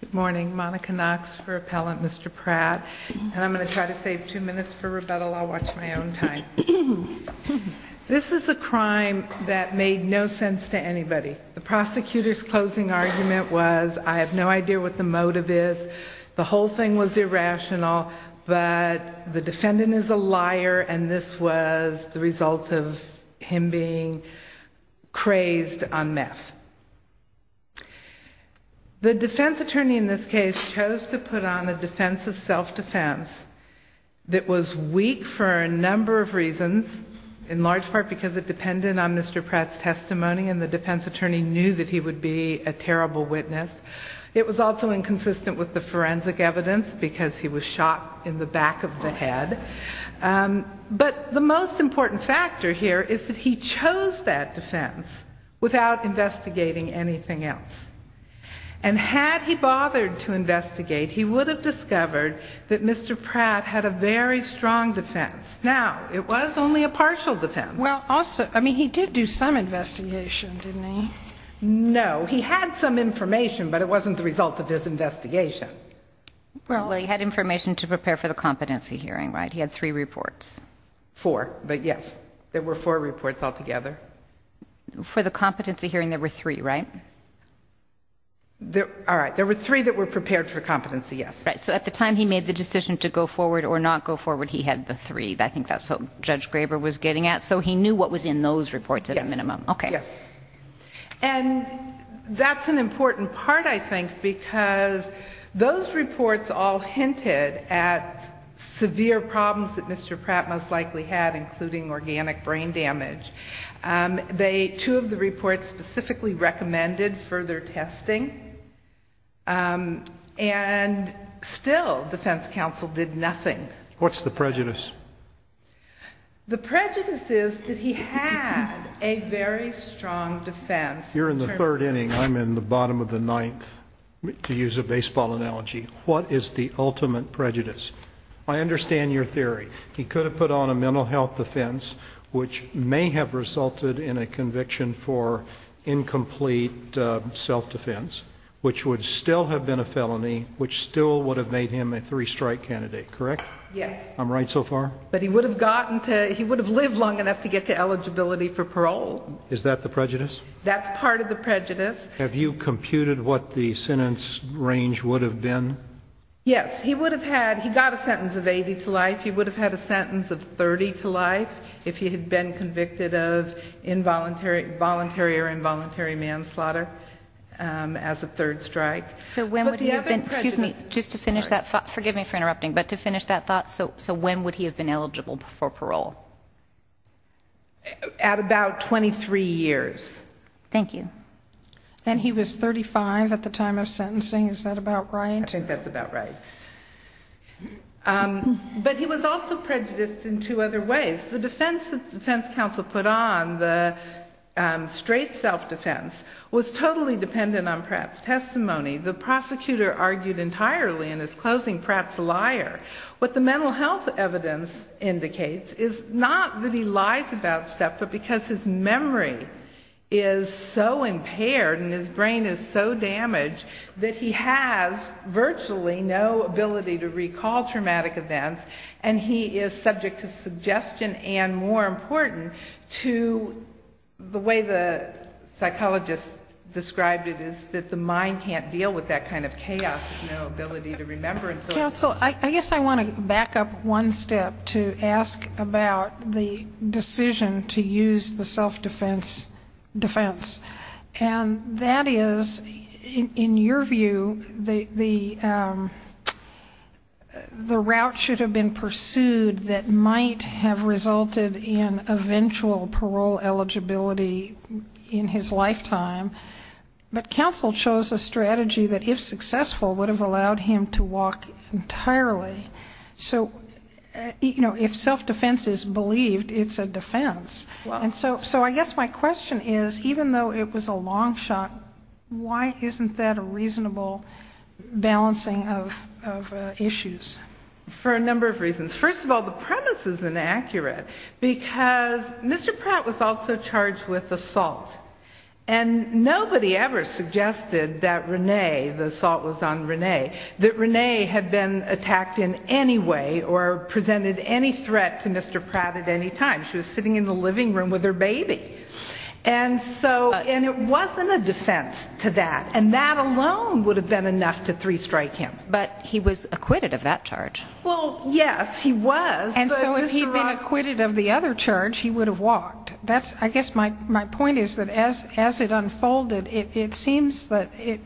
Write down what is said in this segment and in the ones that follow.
Good morning, Monica Knox for Appellant Mr. Pratt, and I'm going to try to save two minutes for rebuttal. I'll watch my own time. This is a crime that made no sense to anybody. The prosecutor's closing argument was, I have no idea what the motive is. The whole thing was irrational, but the defendant is a liar, and this was the result of him being crazed on meth. The defense attorney in this case chose to put on a defense of self-defense that was weak for a number of reasons, in large part because it depended on Mr. Pratt's testimony, and the defense attorney knew that he would be a terrible witness. It was also inconsistent with the forensic evidence because he was shot in the back of the head. But the most important factor here is that he chose that defense without investigating anything else. And had he bothered to investigate, he would have discovered that Mr. Pratt had a very strong defense. Now, it was only a partial defense. Well, also, I mean, he did do some investigation, didn't he? No, he had some information, but it wasn't the result of his investigation. Well, he had information to prepare for the competency hearing, right? He had three reports. Four, but yes, there were four reports altogether. For the competency hearing, there were three, right? All right, there were three that were prepared for competency, yes. Right, so at the time he made the decision to go forward or not go forward, he had the three. I think that's what Judge Graber was getting at, so he knew what was in those reports at a minimum. Yes, yes. And that's an important part, I think, because those reports all hinted at severe problems that Mr. Pratt most likely had, including organic brain damage. Two of the reports specifically recommended further testing. And still, defense counsel did nothing. What's the prejudice? The prejudice is that he had a very strong defense. You're in the third inning. I'm in the bottom of the ninth, to use a baseball analogy. What is the ultimate prejudice? I understand your theory. He could have put on a mental health defense, which may have resulted in a conviction for incomplete self-defense, which would still have been a felony, which still would have made him a three-strike candidate, correct? Yes. I'm right so far? But he would have gotten to, he would have lived long enough to get to eligibility for parole. Is that the prejudice? That's part of the prejudice. Have you computed what the sentence range would have been? Yes. He would have had, he got a sentence of 80 to life. He would have had a sentence of 30 to life if he had been convicted of involuntary or involuntary manslaughter as a third strike. So when would he have been, excuse me, just to finish that thought, forgive me for interrupting, but to finish that thought, so when would he have been eligible for parole? At about 23 years. Thank you. And he was 35 at the time of sentencing. Is that about right? I think that's about right. But he was also prejudiced in two other ways. The defense that the defense counsel put on, the straight self-defense, was totally dependent on Pratt's testimony. The prosecutor argued entirely in his closing, Pratt's a liar. What the mental health evidence indicates is not that he lies about stuff, but because his memory is so impaired and his brain is so damaged that he has virtually no ability to recall traumatic events, and he is subject to suggestion and, more important, to the way the psychologist described it is that the mind can't deal with that kind of chaos, no ability to remember. Counsel, I guess I want to back up one step to ask about the decision to use the self-defense defense. And that is, in your view, the route should have been pursued that might have resulted in eventual parole eligibility in his lifetime, but counsel chose a strategy that, if successful, would have allowed him to walk entirely. So, you know, if self-defense is believed, it's a defense. And so I guess my question is, even though it was a long shot, why isn't that a reasonable balancing of issues? For a number of reasons. First of all, the premise is inaccurate, because Mr. Pratt was also charged with assault. And nobody ever suggested that Renee, the assault was on Renee, that Renee had been attacked in any way or presented any threat to Mr. Pratt at any time. She was sitting in the living room with her baby. And so, and it wasn't a defense to that. And that alone would have been enough to three-strike him. But he was acquitted of that charge. Well, yes, he was. And so if he had been acquitted of the other charge, he would have walked. I guess my point is that as it unfolded, it seems that it,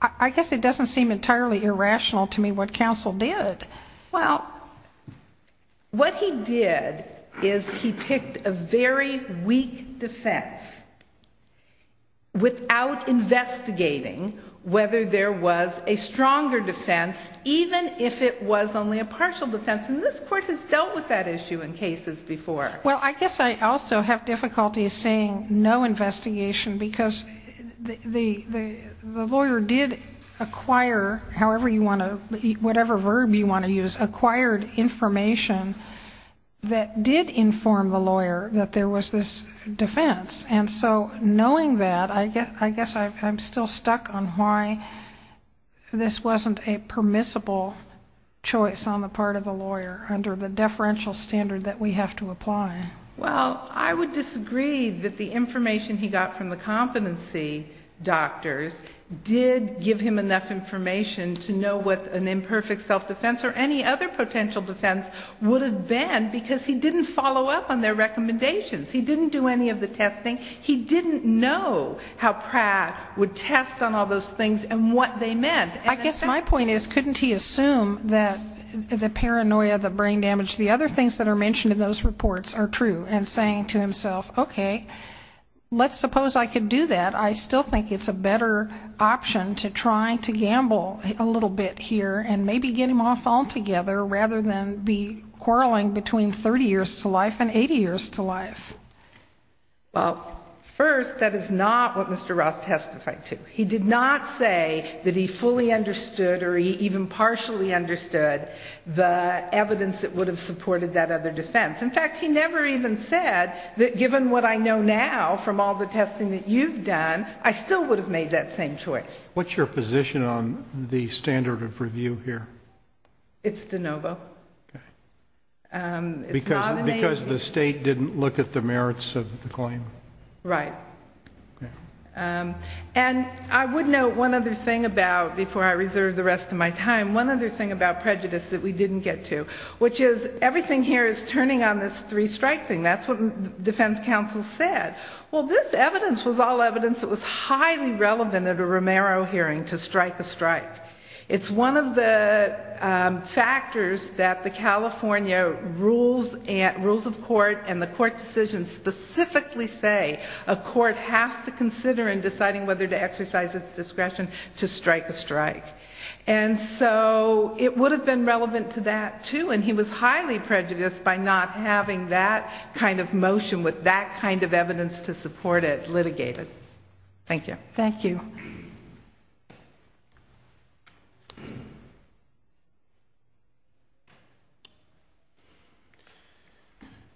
I guess it doesn't seem entirely irrational to me what counsel did. Well, what he did is he picked a very weak defense without investigating whether there was a stronger defense, even if it was only a partial defense. And this Court has dealt with that issue in cases before. Well, I guess I also have difficulty saying no investigation, because the lawyer did acquire, however you want to, whatever verb you want to use, acquired information that did inform the lawyer that there was this defense. And so knowing that, I guess I'm still stuck on why this wasn't a permissible choice on the part of the lawyer under the deferential standard that we have to apply. Well, I would disagree that the information he got from the competency doctors did give him enough information to know what an imperfect self-defense or any other potential defense would have been, because he didn't follow up on their recommendations. He didn't do any of the testing. He didn't know how Pratt would test on all those things and what they meant. I guess my point is, couldn't he assume that the paranoia, the brain damage, the other things that are mentioned in those reports are true and saying to himself, okay, let's suppose I could do that. I still think it's a better option to try to gamble a little bit here and maybe get him off altogether rather than be quarreling between 30 years to life and 80 years to life. Well, first, that is not what Mr. Ross testified to. He did not say that he fully understood or he even partially understood the evidence that would have supported that other defense. In fact, he never even said that given what I know now from all the testing that you've done, I still would have made that same choice. What's your position on the standard of review here? It's de novo. Because the state didn't look at the merits of the claim? Right. And I would note one other thing about, before I reserve the rest of my time, one other thing about prejudice that we didn't get to, which is everything here is turning on this three-strike thing. That's what defense counsel said. Well, this evidence was all evidence that was highly relevant at a Romero hearing to strike a strike. It's one of the factors that the California rules of court and the court decisions specifically say that a court has to consider in deciding whether to exercise its discretion to strike a strike. And so it would have been relevant to that, too, and he was highly prejudiced by not having that kind of motion with that kind of evidence to support it litigated. Thank you. Thank you.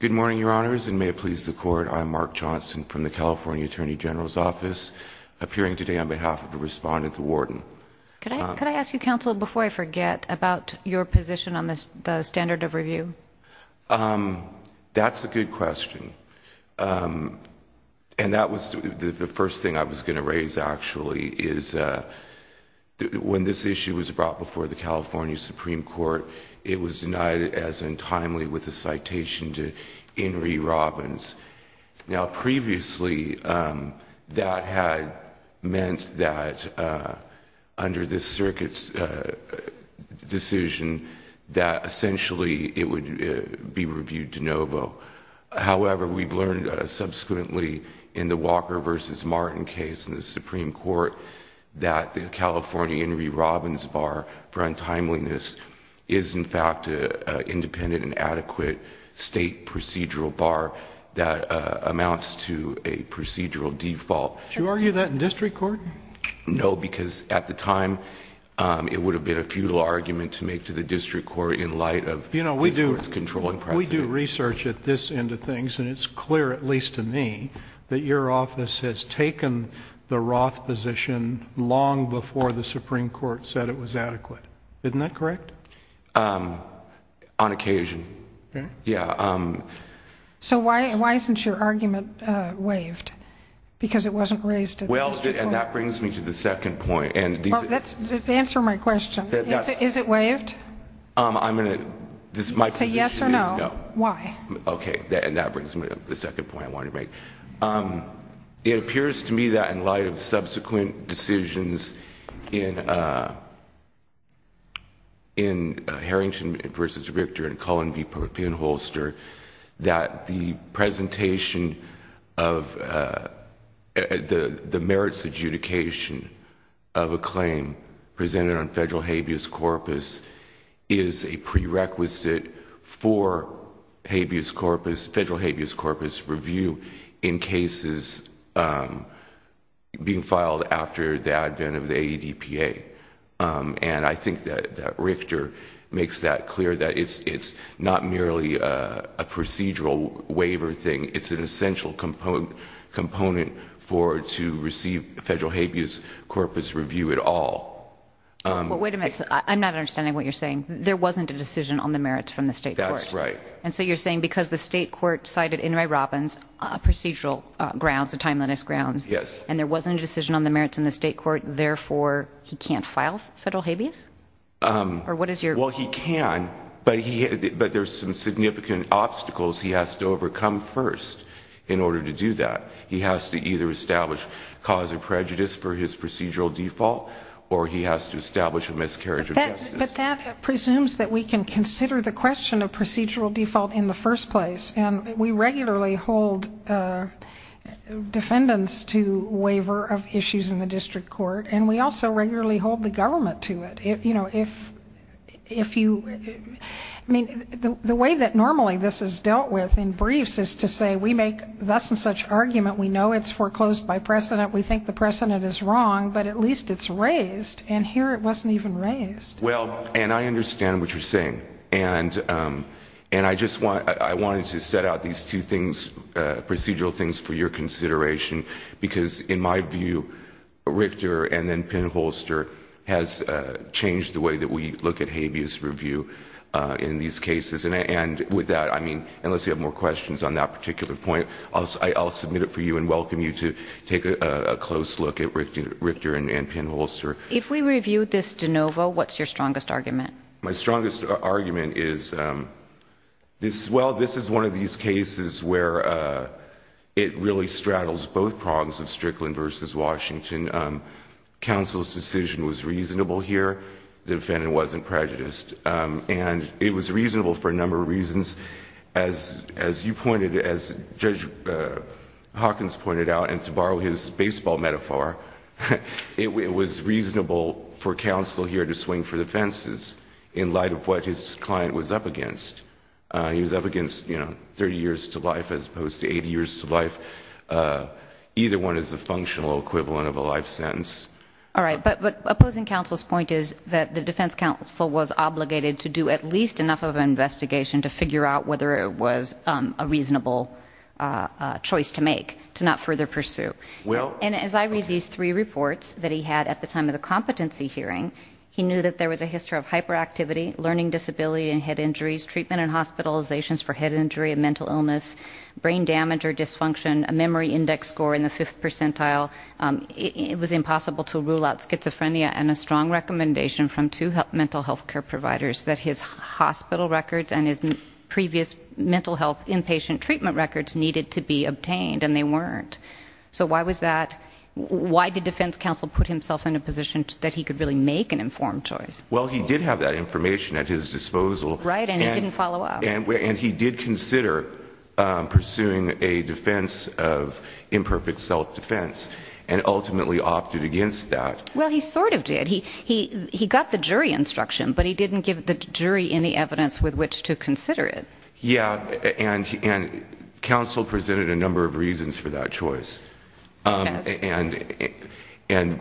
Good morning, Your Honors, and may it please the Court. I'm Mark Johnson from the California Attorney General's Office, appearing today on behalf of the respondent, the warden. Could I ask you, counsel, before I forget, about your position on the standard of review? That's a good question. And that was the first thing I was going to raise, actually, is when this issue was brought before the California Supreme Court, it was denied as untimely with a citation to Henry Robbins. Now, previously, that had meant that under this circuit's decision that essentially it would be reviewed de novo. However, we've learned subsequently in the Walker v. Martin case in the Supreme Court that the California Henry Robbins bar for untimeliness is, in fact, an independent and adequate state procedural bar that amounts to a procedural default. Do you argue that in district court? No, because at the time it would have been a futile argument to make to the district court in light of its controlling precedent. You know, we do research at this end of things, and it's clear, at least to me, that your office has taken the Roth position long before the Supreme Court said it was adequate. Isn't that correct? On occasion, yeah. So why isn't your argument waived? Because it wasn't raised at the district court. Well, and that brings me to the second point. Answer my question. Is it waived? Say yes or no. Why? Okay, and that brings me to the second point I wanted to make. It appears to me that in light of subsequent decisions in Harrington v. Richter and Cullen v. Penholster, that the presentation of the merits adjudication of a claim presented on federal habeas corpus is a prerequisite for federal habeas corpus review in cases being filed after the advent of the AEDPA. And I think that Richter makes that clear, that it's not merely a procedural waiver thing. It's an essential component for it to receive federal habeas corpus review at all. But wait a minute. I'm not understanding what you're saying. There wasn't a decision on the merits from the state court. That's right. And so you're saying because the state court cited Inouye Robbins procedural grounds, the timeliness grounds, and there wasn't a decision on the merits in the state court, therefore he can't file federal habeas? Well, he can, but there's some significant obstacles he has to overcome first in order to do that. He has to either establish cause of prejudice for his procedural default or he has to establish a miscarriage of justice. But that presumes that we can consider the question of procedural default in the first place. And we regularly hold defendants to waiver of issues in the district court, and we also regularly hold the government to it. You know, if you ñ I mean, the way that normally this is dealt with in briefs is to say we make thus and such argument, we know it's foreclosed by precedent, we think the precedent is wrong, but at least it's raised, and here it wasn't even raised. Well, and I understand what you're saying. And I just want ñ I wanted to set out these two things, procedural things, for your consideration, because in my view Richter and then Penholster has changed the way that we look at habeas review in these cases. And with that, I mean, unless you have more questions on that particular point, I'll submit it for you and welcome you to take a close look at Richter and Penholster. If we review this de novo, what's your strongest argument? My strongest argument is this ñ well, this is one of these cases where it really straddles both prongs of Strickland versus Washington. Counsel's decision was reasonable here. The defendant wasn't prejudiced. And it was reasonable for a number of reasons. As you pointed, as Judge Hawkins pointed out, and to borrow his baseball metaphor, it was reasonable for counsel here to swing for the fences in light of what his client was up against. He was up against, you know, 30 years to life as opposed to 80 years to life. Either one is a functional equivalent of a life sentence. All right. But opposing counsel's point is that the defense counsel was obligated to do at least enough of an investigation to figure out whether it was a reasonable choice to make to not further pursue. And as I read these three reports that he had at the time of the competency hearing, he knew that there was a history of hyperactivity, learning disability and head injuries, treatment and hospitalizations for head injury and mental illness, brain damage or dysfunction, a memory index score in the fifth percentile. It was impossible to rule out schizophrenia and a strong recommendation from two mental health care providers that his hospital records and his previous mental health inpatient treatment records needed to be obtained, and they weren't. So why was that? Why did defense counsel put himself in a position that he could really make an informed choice? Well, he did have that information at his disposal. Right, and he didn't follow up. And he did consider pursuing a defense of imperfect self-defense and ultimately opted against that. Well, he sort of did. He got the jury instruction, but he didn't give the jury any evidence with which to consider it. Yeah, and counsel presented a number of reasons for that choice. And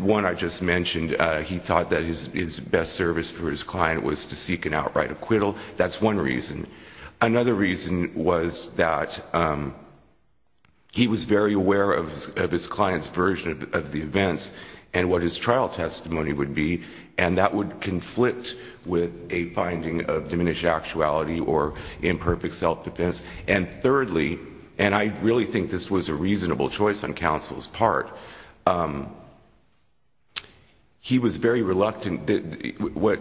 one I just mentioned, he thought that his best service for his client was to seek an outright acquittal. That's one reason. Another reason was that he was very aware of his client's version of the events and what his trial testimony would be, and that would conflict with a finding of diminished actuality or imperfect self-defense. And thirdly, and I really think this was a reasonable choice on counsel's part, he was very reluctant. What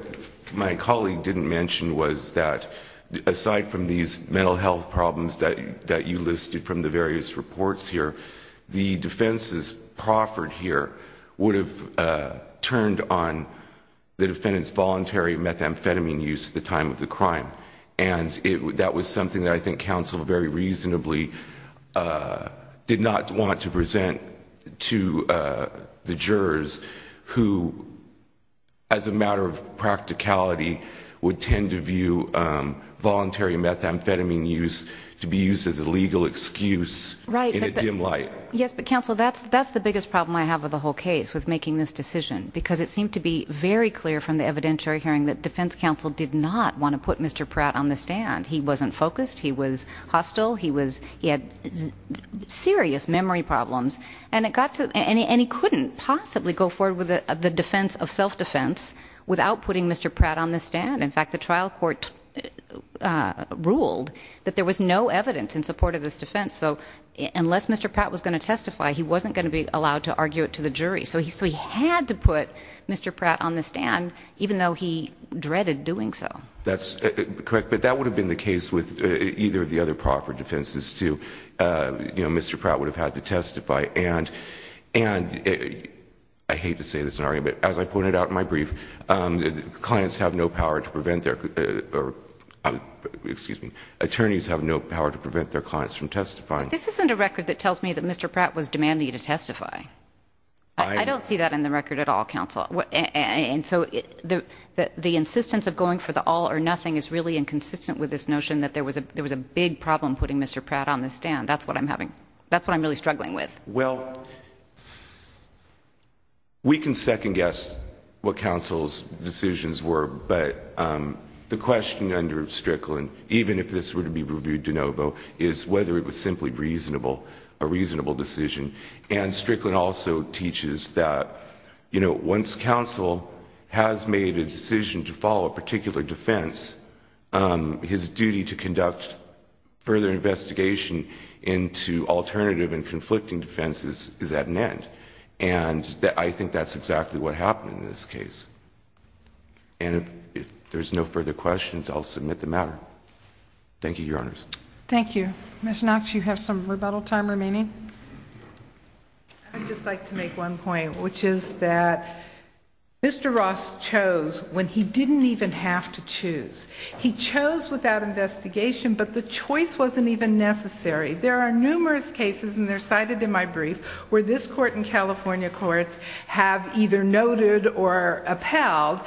my colleague didn't mention was that aside from these mental health problems that you listed from the various reports here, the defenses proffered here would have turned on the defendant's voluntary methamphetamine use at the time of the crime. And that was something that I think counsel very reasonably did not want to present to the jurors, who, as a matter of practicality, would tend to view voluntary methamphetamine use to be used as a legal excuse in a dim light. Yes, but counsel, that's the biggest problem I have with the whole case, with making this decision. Because it seemed to be very clear from the evidentiary hearing that defense counsel did not want to put Mr. Pratt on the stand. He wasn't focused. He was hostile. He had serious memory problems. And he couldn't possibly go forward with the defense of self-defense without putting Mr. Pratt on the stand. In fact, the trial court ruled that there was no evidence in support of this defense. So unless Mr. Pratt was going to testify, he wasn't going to be allowed to argue it to the jury. So he had to put Mr. Pratt on the stand, even though he dreaded doing so. That's correct. But that would have been the case with either of the other proffer defenses, too. You know, Mr. Pratt would have had to testify. And I hate to say this in argument, but as I pointed out in my brief, clients have no power to prevent their or, excuse me, attorneys have no power to prevent their clients from testifying. This isn't a record that tells me that Mr. Pratt was demanding to testify. I don't see that in the record at all, counsel. And so the insistence of going for the all or nothing is really inconsistent with this notion that there was a big problem putting Mr. Pratt on the stand. That's what I'm having, that's what I'm really struggling with. Well, we can second guess what counsel's decisions were, but the question under Strickland, even if this were to be reviewed de novo, is whether it was simply reasonable, a reasonable decision. And Strickland also teaches that once counsel has made a decision to follow a particular defense, his duty to conduct further investigation into alternative and conflicting defenses is at an end. And I think that's exactly what happened in this case. And if there's no further questions, I'll submit the matter. Thank you, Your Honors. Thank you. Ms. Knox, you have some rebuttal time remaining. I'd just like to make one point, which is that Mr. Ross chose when he didn't even have to choose. He chose without investigation, but the choice wasn't even necessary. There are numerous cases, and they're cited in my brief, where this Court and California courts have either noted or upheld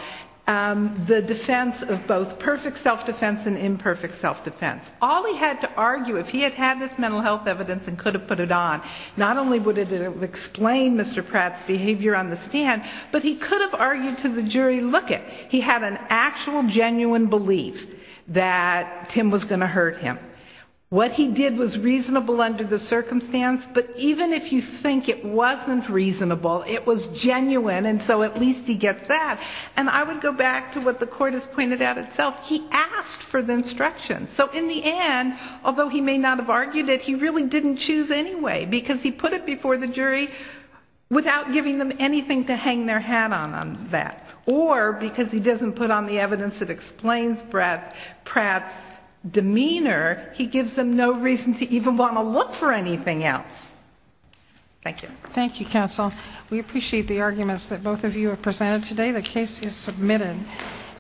the defense of both perfect self-defense and imperfect self-defense. All he had to argue, if he had had this mental health evidence and could have put it on, not only would it have explained Mr. Pratt's behavior on the stand, but he could have argued to the jury, lookit, he had an actual genuine belief that Tim was going to hurt him. What he did was reasonable under the circumstance, but even if you think it wasn't reasonable, it was genuine, and so at least he gets that. And I would go back to what the Court has pointed out itself. He asked for the instruction. So in the end, although he may not have argued it, he really didn't choose anyway, because he put it before the jury without giving them anything to hang their hat on on that. Or because he doesn't put on the evidence that explains Pratt's demeanor, he gives them no reason to even want to look for anything else. Thank you. Thank you, counsel. We appreciate the arguments that both of you have presented today. The case is submitted.